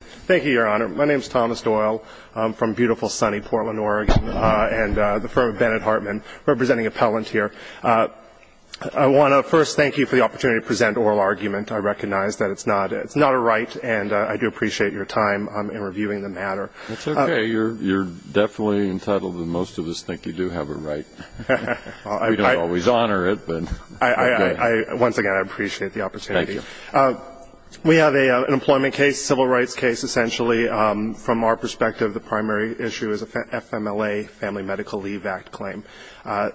Thank you, Your Honor. My name is Thomas Doyle. I'm from beautiful, sunny Portland, Oregon, and the firm of Bennett Hartman, representing Appellant here. I want to first thank you for the opportunity to present oral argument. I recognize that it's not a right, and I do appreciate your time in reviewing the matter. That's okay. You're definitely entitled, and most of us think you do have a right. We don't always honor it, but okay. Once again, I appreciate the opportunity. Thank you. We have an employment case, civil rights case, essentially. From our perspective, the primary issue is a FMLA, Family Medical Leave Act claim.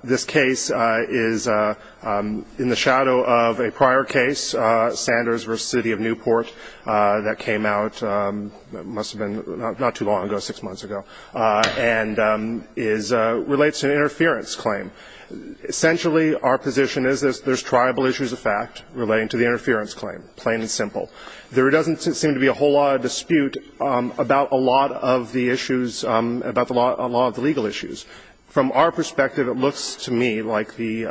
This case is in the shadow of a prior case, Sanders v. City of Newport, that came out not too long ago, six months ago, and relates to an interference claim. Essentially, our position is there's triable issues of fact relating to the interference claim, plain and simple. There doesn't seem to be a whole lot of dispute about a lot of the issues, about a lot of the legal issues. From our perspective, it looks to me like the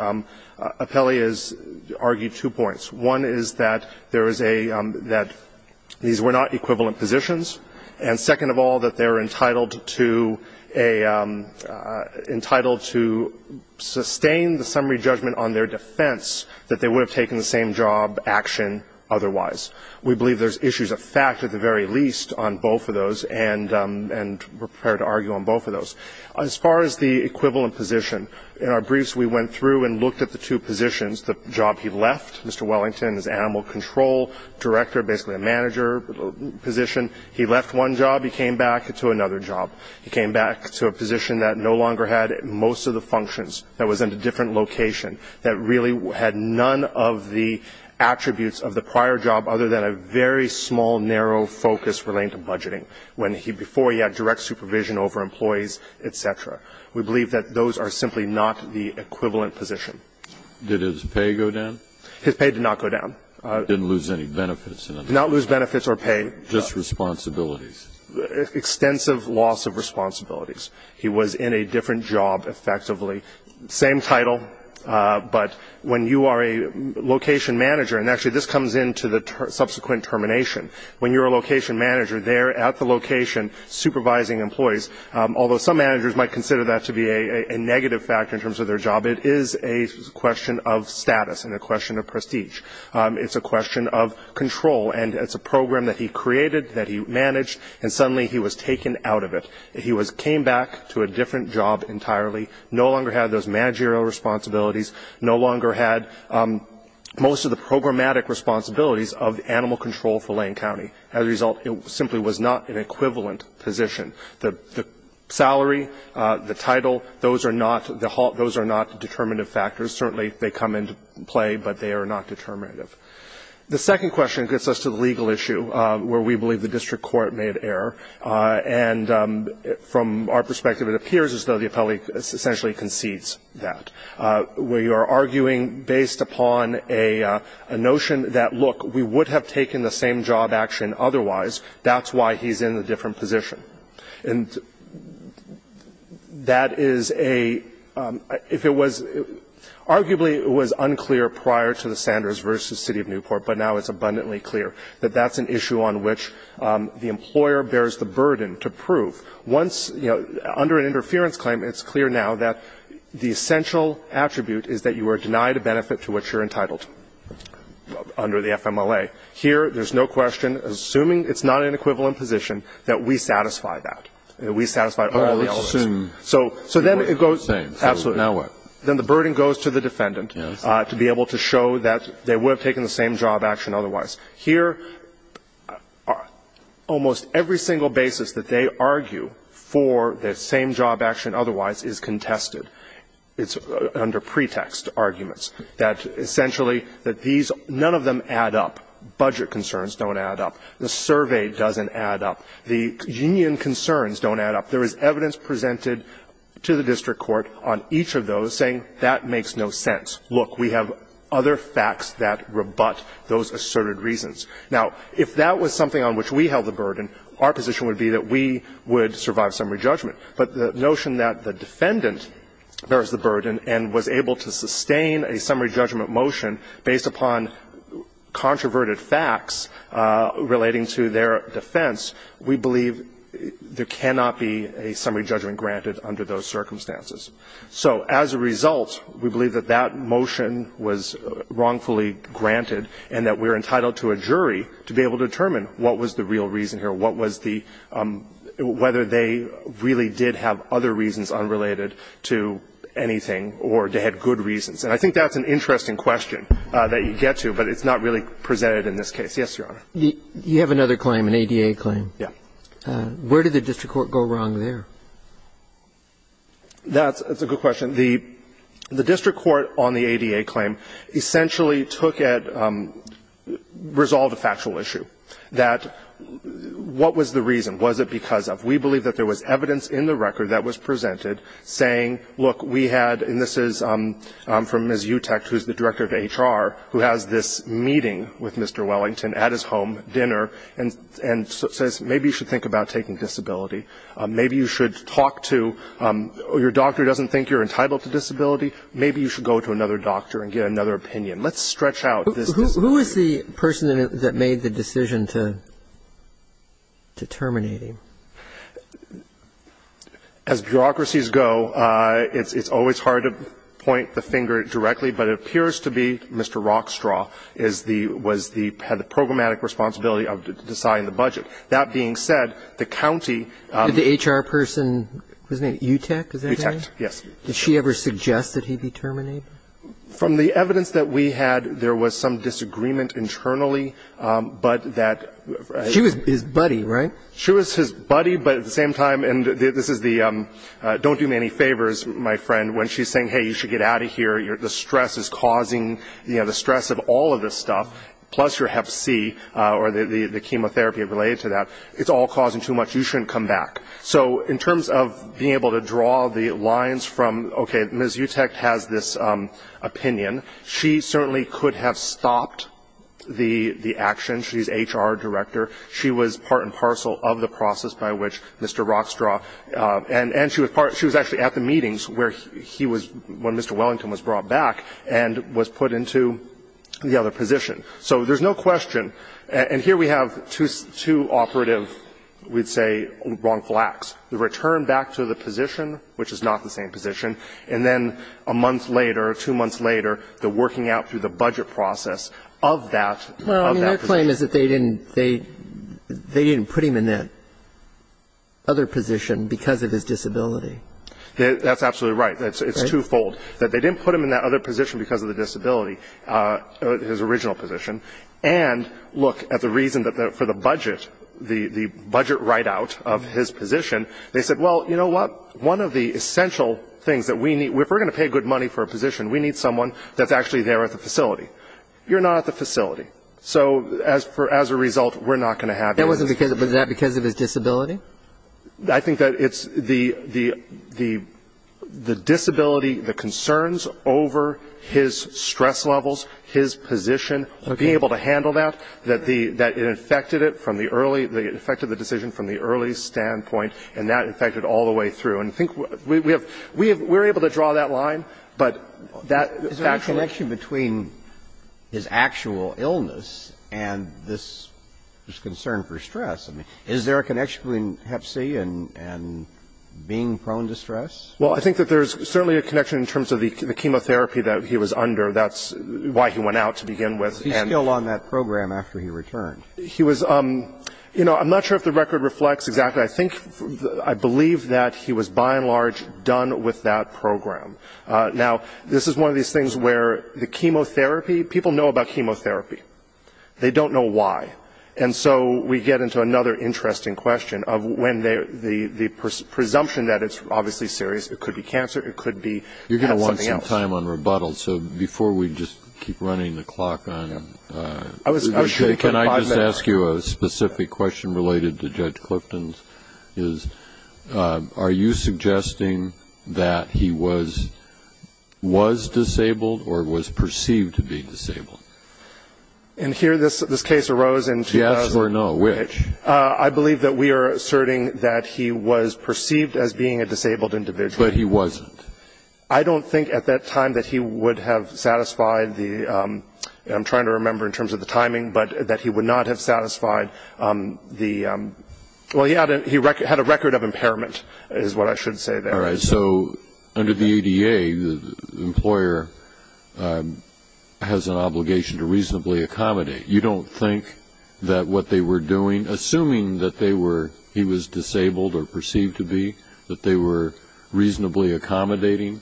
appellee has argued two points. One is that there is a – that these were not equivalent positions. And second of all, that they're entitled to a – entitled to sustain the summary judgment on their defense that they would have taken the same job action otherwise. We believe there's issues of fact at the very least on both of those, and we're prepared to argue on both of those. As far as the equivalent position, in our briefs we went through and looked at the two positions. The job he left, Mr. Wellington, as animal control director, basically a manager position. He left one job. He came back to another job. He came back to a position that no longer had most of the functions, that was in a different location, that really had none of the attributes of the prior job other than a very small, narrow focus relating to budgeting, when he – before he had direct supervision over employees, et cetera. We believe that those are simply not the equivalent position. Did his pay go down? His pay did not go down. Didn't lose any benefits. Did not lose benefits or pay. Just responsibilities. Extensive loss of responsibilities. He was in a different job, effectively. Same title, but when you are a location manager – and actually this comes into the subsequent termination. When you're a location manager, they're at the location supervising employees, although some managers might consider that to be a negative factor in terms of their job. It is a question of status and a question of prestige. It's a question of control, and it's a program that he created, that he managed, and suddenly he was taken out of it. He came back to a different job entirely, no longer had those managerial responsibilities, no longer had most of the programmatic responsibilities of animal control for Lane County. As a result, it simply was not an equivalent position. The salary, the title, those are not the – those are not determinative factors. Certainly, they come into play, but they are not determinative. The second question gets us to the legal issue, where we believe the district court made error. And from our perspective, it appears as though the appellee essentially concedes that. We are arguing based upon a notion that, look, we would have taken the same job action otherwise. That's why he's in a different position. And that is a – if it was – arguably, it was unclear prior to the Sanders v. City of Newport, but now it's abundantly clear that that's an issue on which the employer bears the burden to prove. Once, you know, under an interference claim, it's clear now that the essential attribute is that you are denied a benefit to which you're entitled under the FMLA. Here, there's no question, assuming it's not an equivalent position, that we satisfy that, that we satisfy all the elements. So then it goes to the defendant to be able to show that they would have taken the same job action otherwise. Here, almost every single basis that they argue for the same job action otherwise is contested. It's under pretext arguments that essentially that these – none of them add up. Budget concerns don't add up. The survey doesn't add up. The union concerns don't add up. There is evidence presented to the district court on each of those saying that makes no sense. Look, we have other facts that rebut those asserted reasons. Now, if that was something on which we held the burden, our position would be that we would survive summary judgment. But the notion that the defendant bears the burden and was able to sustain a summary judgment under those circumstances, we believe there cannot be a summary judgment granted under those circumstances. So as a result, we believe that that motion was wrongfully granted and that we're entitled to a jury to be able to determine what was the real reason here, what was the – whether they really did have other reasons unrelated to anything or they had good reasons. And I think that's an interesting question that you get to, but it's not really presented in this case. Yes, Your Honor. You have another claim, an ADA claim. Yeah. Where did the district court go wrong there? That's a good question. The district court on the ADA claim essentially took it, resolved a factual issue, that what was the reason, was it because of. We believe that there was evidence in the record that was presented saying, look, we had, and this is from Ms. Utecht, who's the director of HR, who has this meeting with Mr. Wellington at his home, dinner, and says maybe you should think about taking disability. Maybe you should talk to – your doctor doesn't think you're entitled to disability. Maybe you should go to another doctor and get another opinion. Let's stretch out this disability. Who is the person that made the decision to terminate him? As bureaucracies go, it's always hard to point the finger directly, but it appears to be Mr. Rockstraw is the – was the – had the programmatic responsibility of deciding the budget. That being said, the county. Did the HR person – what's his name? Utecht, is that his name? Utecht, yes. Did she ever suggest that he be terminated? From the evidence that we had, there was some disagreement internally, but that. She was his buddy, right? She was his buddy, but at the same time – and this is the don't do me any favors, my friend, when she's saying, hey, you should get out of here. The stress is causing – the stress of all of this stuff, plus your Hep C, or the chemotherapy related to that. It's all causing too much. You shouldn't come back. So in terms of being able to draw the lines from – okay, Ms. Utecht has this opinion. She certainly could have stopped the action. She's HR director. She was part and parcel of the process by which Mr. Rockstraw – and she was part – she was actually at the meetings where he was – when Mr. Wellington was brought back and was put into the other position. So there's no question. And here we have two operative, we'd say, wrongful acts. The return back to the position, which is not the same position, and then a month later, two months later, the working out through the budget process of that position. My claim is that they didn't put him in that other position because of his disability. That's absolutely right. It's twofold, that they didn't put him in that other position because of the disability, his original position, and look at the reason for the budget, the budget write-out of his position. They said, well, you know what? One of the essential things that we need – if we're going to pay good money for a position, we need someone that's actually there at the facility. You're not at the facility. So as a result, we're not going to have you. That wasn't because – was that because of his disability? I think that it's the disability, the concerns over his stress levels, his position, being able to handle that, that it affected it from the early – it affected the decision from the early standpoint, and that affected all the way through. And I think we have – we're able to draw that line, but that – Is there any connection between his actual illness and this concern for stress? I mean, is there a connection between hep C and being prone to stress? Well, I think that there's certainly a connection in terms of the chemotherapy that he was under. That's why he went out to begin with. He's still on that program after he returned. He was – you know, I'm not sure if the record reflects exactly. I think – I believe that he was, by and large, done with that program. Now, this is one of these things where the chemotherapy – people know about chemotherapy. They don't know why. And so we get into another interesting question of when the presumption that it's obviously serious, it could be cancer, it could be something else. You're going to want some time on rebuttals. So before we just keep running the clock on him, can I just ask you a specific question related to Judge Clifton's, is are you suggesting that he was disabled or was perceived to be disabled? And here this case arose in 2000. Yes or no, which? I believe that we are asserting that he was perceived as being a disabled individual. But he wasn't. I don't think at that time that he would have satisfied the – well, he had a record of impairment is what I should say there. All right. So under the ADA, the employer has an obligation to reasonably accommodate. You don't think that what they were doing, assuming that they were – he was disabled or perceived to be, that they were reasonably accommodating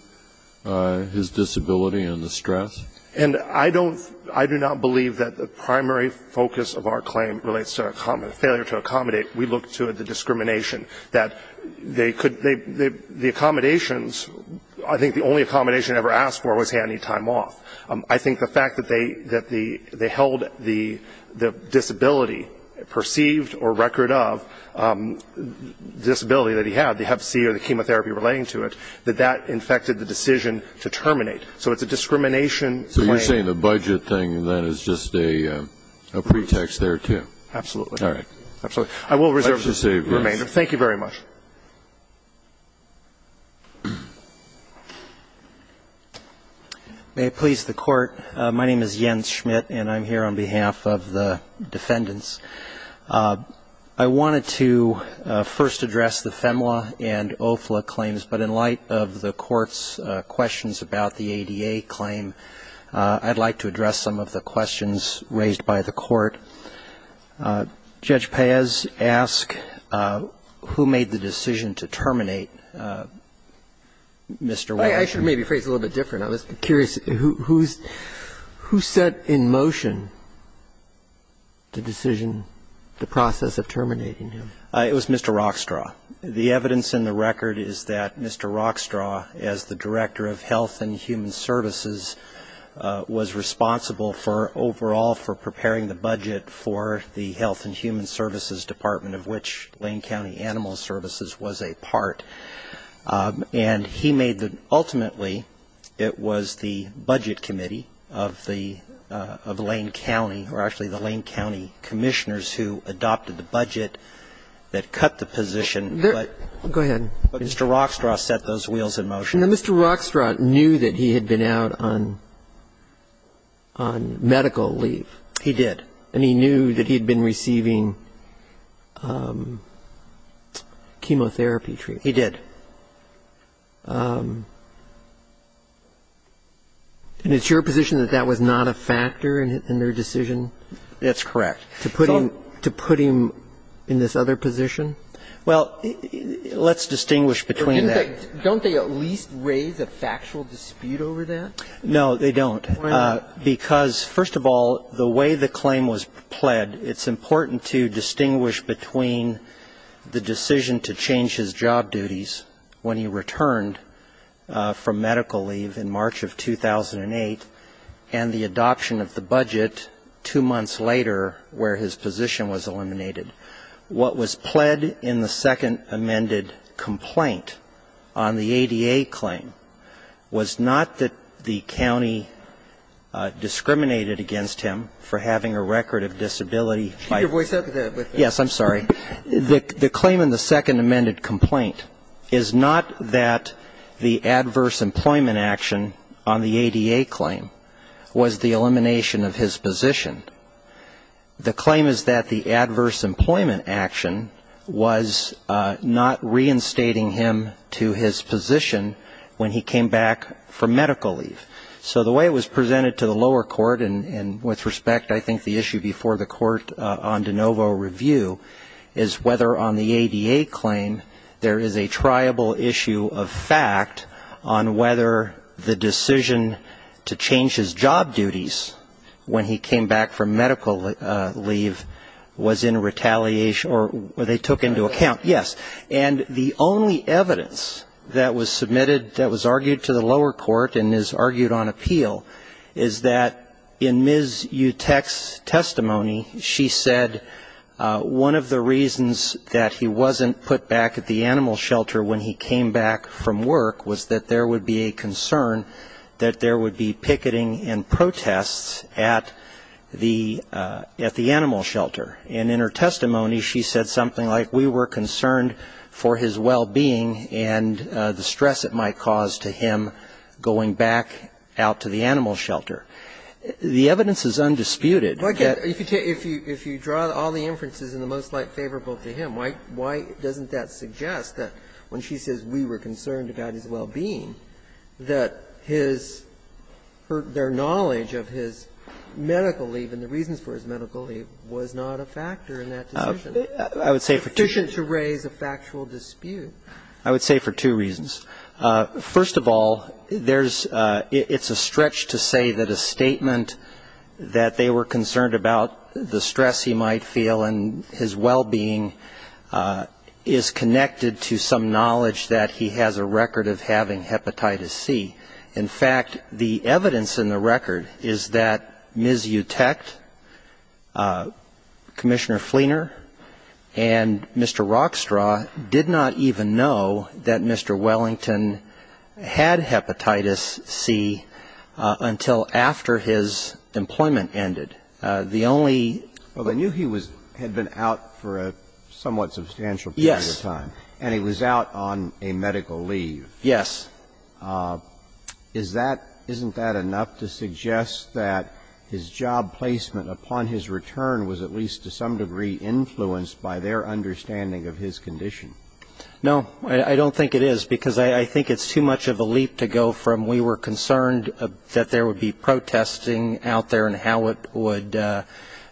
his disability and the stress? And I don't – I do not believe that the primary focus of our claim relates to a failure to accommodate. We look to the discrimination that they could – the accommodations, I think the only accommodation ever asked for was, hey, I need time off. I think the fact that they held the disability, perceived or record of disability that he had, the hep C or the chemotherapy relating to it, that that infected the decision to terminate. So it's a discrimination claim. So you're saying the budget thing then is just a pretext there, too? Absolutely. All right. Absolutely. I will reserve the remainder. Thank you very much. May it please the Court. My name is Jens Schmidt, and I'm here on behalf of the defendants. I wanted to first address the FEMLA and OFLA claims. But in light of the Court's questions about the ADA claim, I'd like to address some of the questions raised by the Court. Judge Paez asked who made the decision to terminate Mr. Walsh. I should maybe phrase it a little bit different. I was curious. Who set in motion the decision, the process of terminating him? It was Mr. Rockstraw. The evidence in the record is that Mr. Rockstraw, as the Director of Health and Human Services, was responsible for overall for preparing the budget for the Health and Human Services Department, of which Lane County Animal Services was a part. And he made the ultimately it was the Budget Committee of Lane County, or actually the Lane County Commissioners who adopted the budget that cut the position. Go ahead. But Mr. Rockstraw set those wheels in motion. Now, Mr. Rockstraw knew that he had been out on medical leave. He did. And he knew that he had been receiving chemotherapy treatment. He did. And it's your position that that was not a factor in their decision? That's correct. To put him in this other position? Well, let's distinguish between that. Don't they at least raise a factual dispute over that? No, they don't. Why not? Because, first of all, the way the claim was pled, it's important to distinguish between the decision to change his job duties when he returned from medical leave in March of 2008 and the adoption of the budget two months later where his position was eliminated. What was pled in the second amended complaint on the ADA claim was not that the county discriminated against him for having a record of disability. Keep your voice out of that. Yes, I'm sorry. The claim in the second amended complaint is not that the adverse employment action on the ADA claim was the elimination of his position. The claim is that the adverse employment action was not reinstating him to his position when he came back from medical leave. So the way it was presented to the lower court, and with respect, I think the issue before the court on de novo review, is whether on the ADA claim there is a triable issue of fact on whether the decision to change his job duties when he came back from medical leave was in retaliation or they took into account. Yes. And the only evidence that was submitted that was argued to the lower court and is argued on appeal is that in Ms. Utek's testimony, she said one of the reasons that he wasn't put back at the animal shelter when he came back from work was that there would be a concern that there would be picketing and protests at the animal shelter. And in her testimony, she said something like, we were concerned for his well-being and the stress it might cause to him going back out to the animal shelter. The evidence is undisputed. If you draw all the inferences in the most light favorable to him, why doesn't that suggest that when she says we were concerned about his well-being, that his or their knowledge of his medical leave and the reasons for his medical leave was not a factor in that decision? I would say for two reasons. It's sufficient to raise a factual dispute. I would say for two reasons. First of all, it's a stretch to say that a statement that they were concerned about the stress he might feel and his well-being is connected to some knowledge that he has a record of having hepatitis C. In fact, the evidence in the record is that Ms. Utek, Commissioner Fleener, and Mr. Rockstraw did not even know that Mr. Wellington had hepatitis C until after his employment ended. The only ---- Well, they knew he had been out for a somewhat substantial period of time. Yes. And he was out on a medical leave. Yes. Isn't that enough to suggest that his job placement upon his return was at least to some degree influenced by their understanding of his condition? No. I don't think it is, because I think it's too much of a leap to go from we were concerned that there would be protesting out there and how it would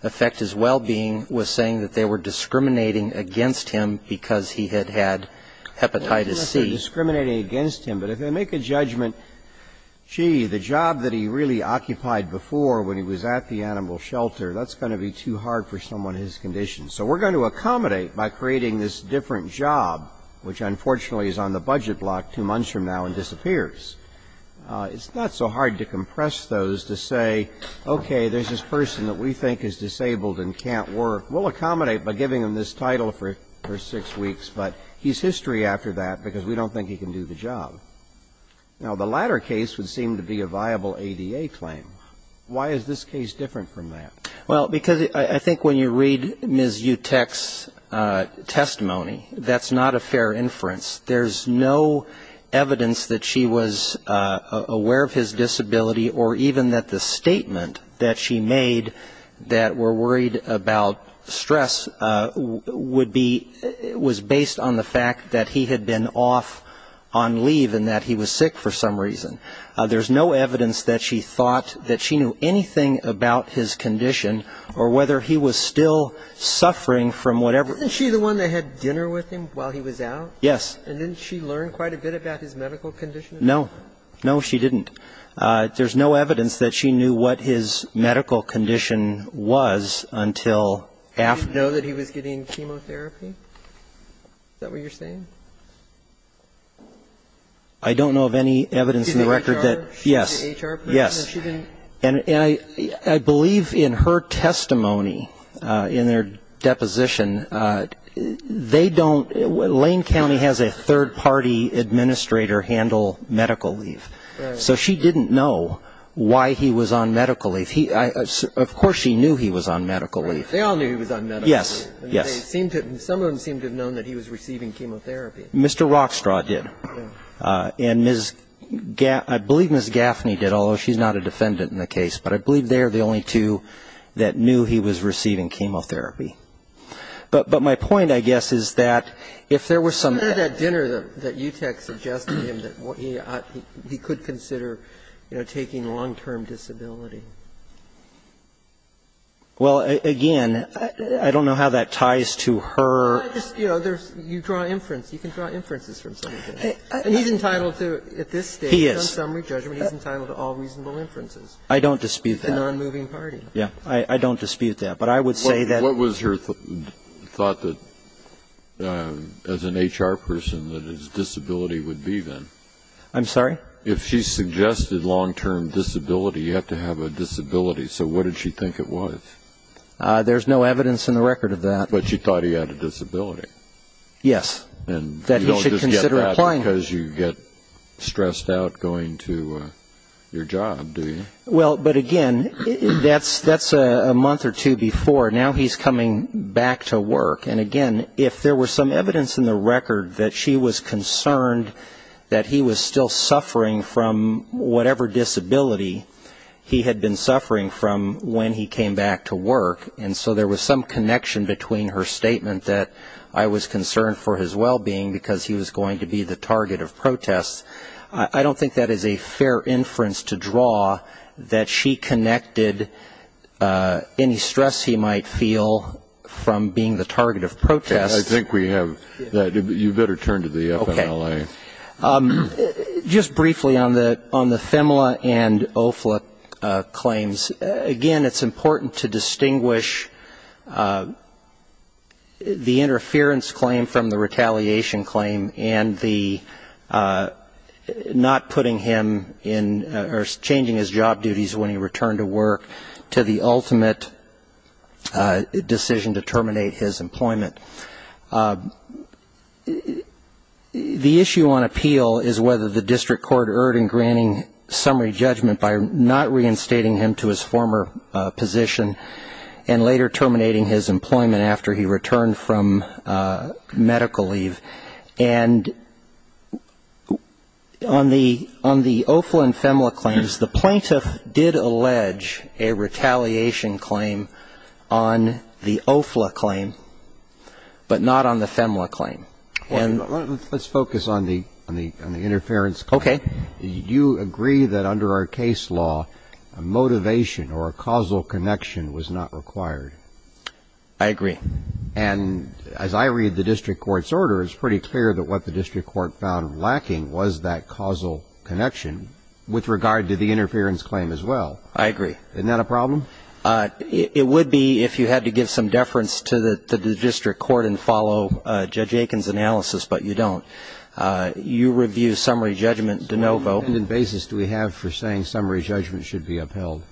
affect his well-being with saying that they were discriminating against him because he had had hepatitis C. Well, I think they were discriminating against him, but if they make a judgment, gee, the job that he really occupied before when he was at the animal shelter, that's going to be too hard for someone his condition. So we're going to accommodate by creating this different job, which unfortunately is on the budget block two months from now and disappears. It's not so hard to compress those to say, okay, there's this person that we think is disabled and can't work. We'll accommodate by giving him this title for six weeks, but he's history after that because we don't think he can do the job. Now, the latter case would seem to be a viable ADA claim. Why is this case different from that? Well, because I think when you read Ms. Utech's testimony, that's not a fair inference. There's no evidence that she was aware of his disability or even that the statement that she made that we're worried about stress would be was based on the fact that he had been off on leave and that he was sick for some reason. There's no evidence that she thought that she knew anything about his condition or whether he was still suffering from whatever. Isn't she the one that had dinner with him while he was out? Yes. And didn't she learn quite a bit about his medical condition? No. No, she didn't. There's no evidence that she knew what his medical condition was until after. Did she know that he was getting chemotherapy? Is that what you're saying? I don't know of any evidence in the record that yes. She's an HR person? Yes. No, she didn't. And I believe in her testimony, in their deposition, they don't. Lane County has a third-party administrator handle medical leave. Right. So she didn't know why he was on medical leave. Of course she knew he was on medical leave. Right. They all knew he was on medical leave. Yes. Yes. Some of them seemed to have known that he was receiving chemotherapy. Mr. Rockstraw did. Yes. And I believe Ms. Gaffney did, although she's not a defendant in the case. But I believe they are the only two that knew he was receiving chemotherapy. But my point, I guess, is that if there were some ---- What about that dinner that Utech suggested to him that he could consider, you know, taking long-term disability? Well, again, I don't know how that ties to her ---- You know, you draw inferences. You can draw inferences from somebody. And he's entitled to, at this stage ---- He is. He's entitled to all reasonable inferences. I don't dispute that. He's a nonmoving party. Yes. I don't dispute that. But I would say that ---- What was her thought that, as an HR person, that his disability would be, then? I'm sorry? If she suggested long-term disability, you have to have a disability. So what did she think it was? There's no evidence in the record of that. But she thought he had a disability. Yes. And you don't just get that because you get stressed out going to your job, do you? Well, but, again, that's a month or two before. Now he's coming back to work. And, again, if there was some evidence in the record that she was concerned that he was still suffering from whatever disability he had been suffering from when he came back to work, and so there was some connection between her statement that I was concerned for his well-being because he was going to be the target of protests, I don't think that is a fair inference to draw that she connected any stress he might feel from being the target of protests. I think we have that. You better turn to the FMLA. Okay. Just briefly on the FEMLA and OFLA claims, again, it's important to distinguish the interference claim from the retaliation claim and the not putting him in or changing his job duties when he returned to work to the ultimate decision to terminate his employment. The issue on appeal is whether the district court erred in granting summary judgment by not reinstating him to his former position and later terminating his employment after he returned from medical leave. And on the OFLA and FEMLA claims, the plaintiff did allege a retaliation claim on the OFLA claim, but not on the FEMLA claim. Let's focus on the interference claim. Okay. You agree that under our case law, a motivation or a causal connection was not required. I agree. And as I read the district court's order, it's pretty clear that what the district court found lacking was that causal connection with regard to the interference claim as well. I agree. Isn't that a problem? It would be if you had to give some deference to the district court and follow Judge Aiken's analysis, but you don't. You review summary judgment de novo. So what basis do we have for saying summary judgment should be upheld?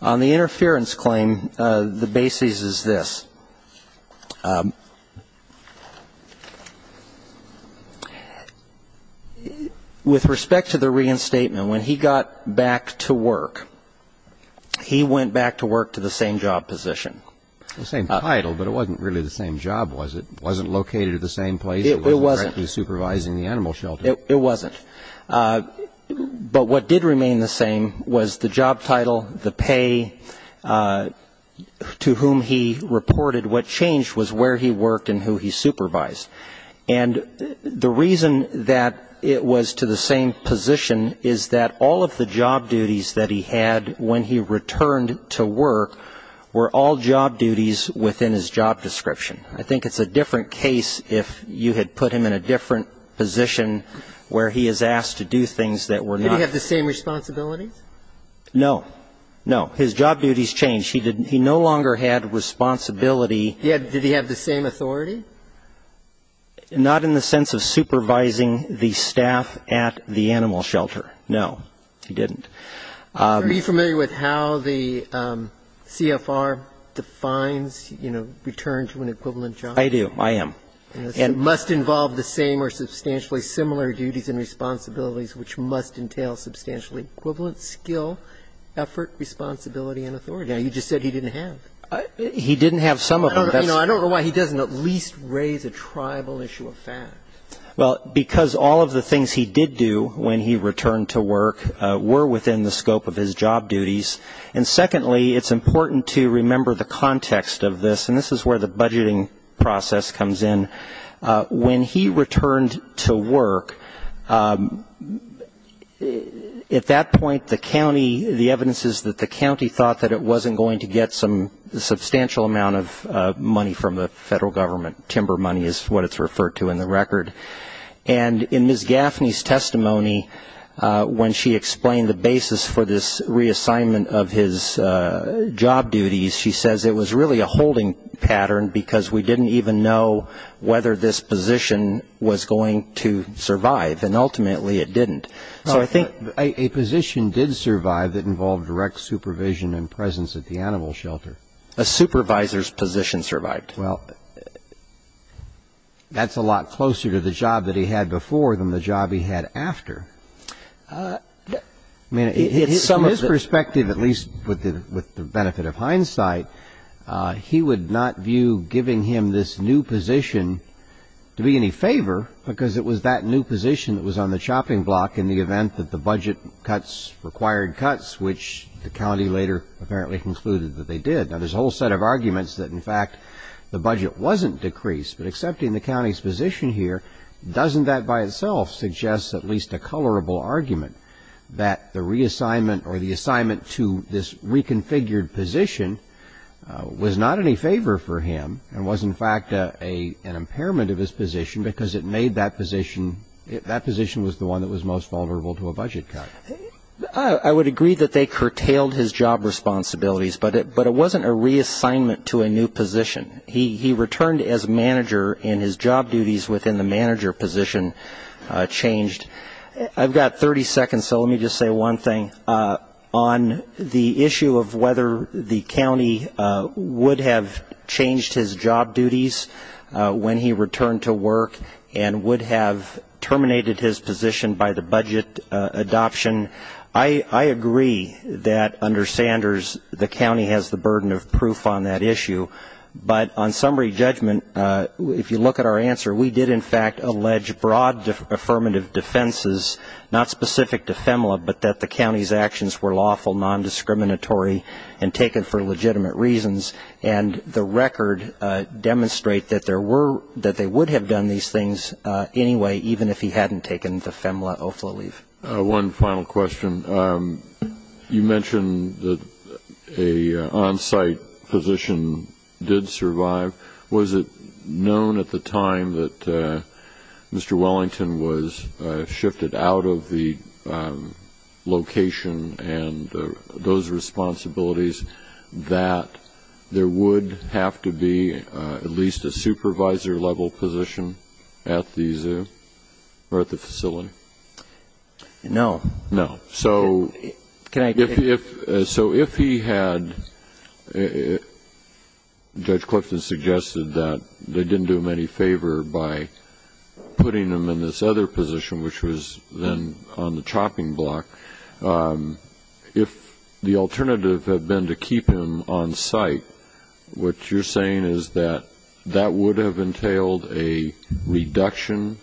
On the interference claim, the basis is this. With respect to the reinstatement, when he got back to work, he went back to work to the same job position. The same title, but it wasn't really the same job, was it? It wasn't located at the same place? It wasn't. He was directly supervising the animal shelter. It wasn't. But what did remain the same was the job title, the pay to whom he reported. What changed was where he worked and who he supervised. And the reason that it was to the same position is that all of the job duties that he had when he returned to work were all job duties within his job description. I think it's a different case if you had put him in a different position where he is asked to do things that were not. Did he have the same responsibilities? No. No. His job duties changed. He no longer had responsibility. Did he have the same authority? Not in the sense of supervising the staff at the animal shelter, no. He didn't. Are you familiar with how the CFR defines, you know, return to an equivalent job? I do. I am. It must involve the same or substantially similar duties and responsibilities which must entail substantially equivalent skill, effort, responsibility and authority. Now, you just said he didn't have. He didn't have some of them. I don't know why he doesn't at least raise a tribal issue of fact. Well, because all of the things he did do when he returned to work were within the scope of his job duties. And secondly, it's important to remember the context of this, and this is where the budgeting process comes in. When he returned to work, at that point the county, the evidence is that the county thought that it wasn't going to get some substantial amount of money from the federal government. Timber money is what it's referred to in the record. And in Ms. Gaffney's testimony, when she explained the basis for this reassignment of his job duties, she says it was really a holding pattern because we didn't even know whether this position was going to survive, and ultimately it didn't. So I think a position did survive that involved direct supervision and presence at the animal shelter. A supervisor's position survived. Well, that's a lot closer to the job that he had before than the job he had after. From his perspective, at least with the benefit of hindsight, he would not view giving him this new position to be any favor because it was that new position that was on the chopping block in the event that the budget cuts required cuts, which the county later apparently concluded that they did. Now, there's a whole set of arguments that, in fact, the budget wasn't decreased. But accepting the county's position here, doesn't that by itself suggest at least a colorable argument that the reassignment or the assignment to this reconfigured position was not any favor for him and was in fact an impairment of his position because it made that position, that position was the one that was most vulnerable to a budget cut. I would agree that they curtailed his job responsibilities, but it wasn't a reassignment to a new position. He returned as manager and his job duties within the manager position changed. I've got 30 seconds, so let me just say one thing. On the issue of whether the county would have changed his job duties when he returned to work and would have terminated his position by the budget adoption, I agree that under Sanders the county has the burden of proof on that issue. But on summary judgment, if you look at our answer, we did in fact allege broad affirmative defenses, not specific to FEMLA, but that the county's actions were lawful, nondiscriminatory, and taken for legitimate reasons. And the record demonstrates that they would have done these things anyway, even if he hadn't taken the FEMLA OFLA leave. One final question. You mentioned that an on-site physician did survive. Was it known at the time that Mr. Wellington was shifted out of the location and those responsibilities that there would have to be at least a supervisor level position at the facility? No. No. So if he had, Judge Clifton suggested that they didn't do him any favor by putting him in this other position, which was then on the chopping block, if the alternative had been to keep him on site, what you're saying is that that would have entailed a reduction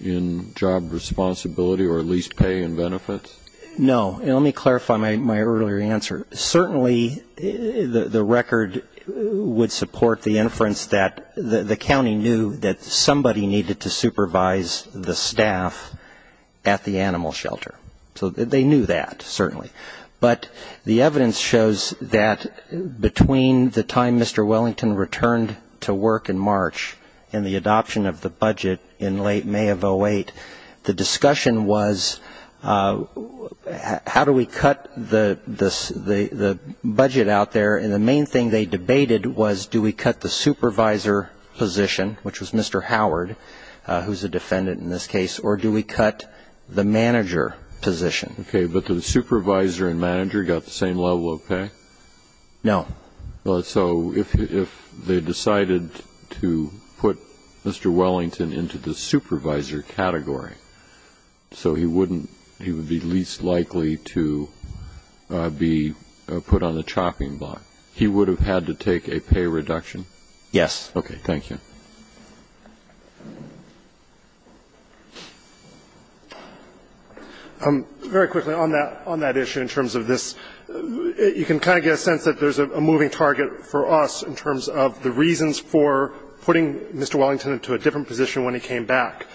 in job responsibility or at least pay and benefits? No. And let me clarify my earlier answer. Certainly the record would support the inference that the county knew that somebody needed to supervise the staff at the animal shelter. So they knew that, certainly. But the evidence shows that between the time Mr. Wellington returned to work in March and the adoption of the budget in late May of 2008, the discussion was how do we cut the budget out there, and the main thing they debated was do we cut the supervisor position, which was Mr. Howard, who's a defendant in this case, or do we cut the manager position? Okay. But the supervisor and manager got the same level of pay? No. So if they decided to put Mr. Wellington into the supervisor category, so he wouldn't be least likely to be put on the chopping block, he would have had to take a pay reduction? Yes. Thank you. Very quickly on that issue in terms of this, you can kind of get a sense that there's a moving target for us in terms of the reasons for putting Mr. Wellington into a different position when he came back.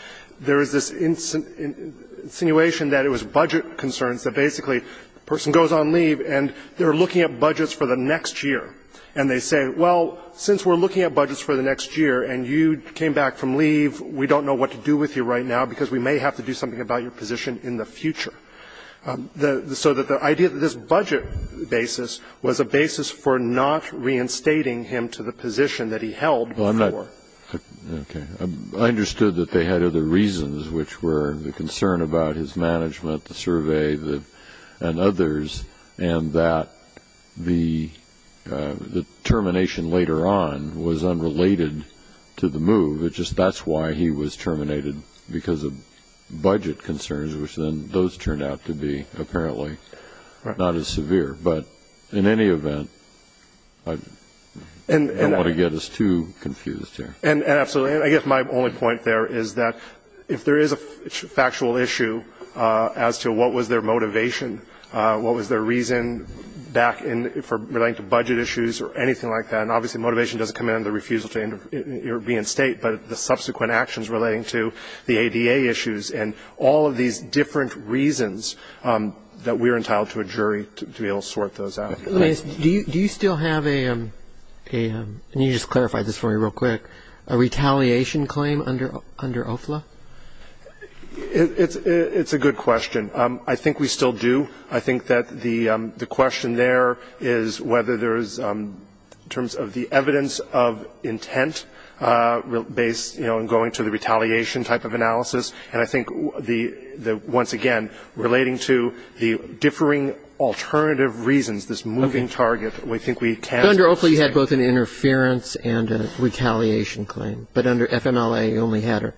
There is this insinuation that it was budget concerns, that basically the person goes on leave and they're looking at budgets for the next year, and they say, well, since we're looking at budgets for the next year and you came back from leave, we don't know what to do with you right now because we may have to do something about your position in the future. So the idea that this budget basis was a basis for not reinstating him to the position that he held before. Okay. I understood that they had other reasons, which were the concern about his management, the survey, and others, and that the termination later on was unrelated to the move. It's just that's why he was terminated, because of budget concerns, which then those turned out to be apparently not as severe. But in any event, I don't want to get us too confused here. And absolutely. I guess my only point there is that if there is a factual issue as to what was their motivation, what was their reason back in relating to budget issues or anything like that, and obviously motivation doesn't come in under the refusal to be in State, but the subsequent actions relating to the ADA issues and all of these different reasons that we're entitled to a jury to be able to sort those out. Do you still have a, and you just clarified this for me real quick, a retaliation claim under OFLA? It's a good question. I think we still do. I think that the question there is whether there is, in terms of the evidence of intent based, you know, in going to the retaliation type of analysis, and I think once again, relating to the differing alternative reasons, this moving target, we think we can. But under OFLA, you had both an interference and a retaliation claim. But under FMLA, you only had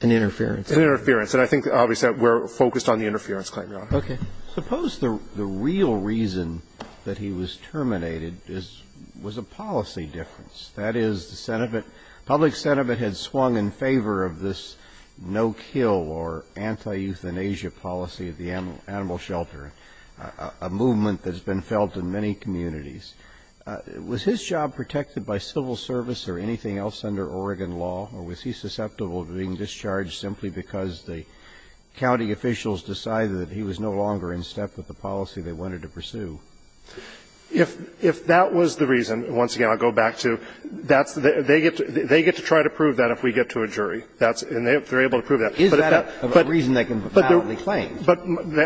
an interference. An interference. And I think, obviously, we're focused on the interference claim, Your Honor. Okay. Suppose the real reason that he was terminated is, was a policy difference. That is, the public sentiment had swung in favor of this no-kill or anti-euthanasia policy of the animal shelter, a movement that has been felt in many communities. Was his job protected by civil service or anything else under Oregon law, or was he susceptible to being discharged simply because the county officials decided that he was no longer in step with the policy they wanted to pursue? If that was the reason, once again, I'll go back to, that's the – they get to try to prove that if we get to a jury. And they're able to prove that. Is that a reason they can validly claim? But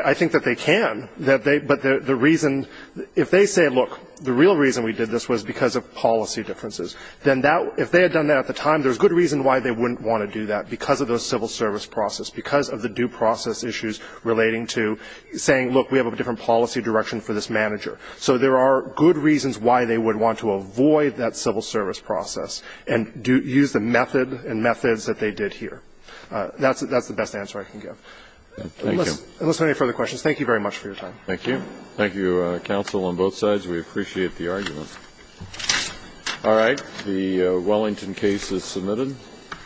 I think that they can. But the reason – if they say, look, the real reason we did this was because of policy differences, then that – if they had done that at the time, there's good reason why they wouldn't want to do that, because of the civil service process, because of the due process issues relating to saying, look, we have a different policy direction for this manager. So there are good reasons why they would want to avoid that civil service process and use the method and methods that they did here. That's the best answer I can give. Thank you. Unless there are any further questions, thank you very much for your time. Thank you. Thank you, counsel, on both sides. We appreciate the argument. All right. The Wellington case is submitted.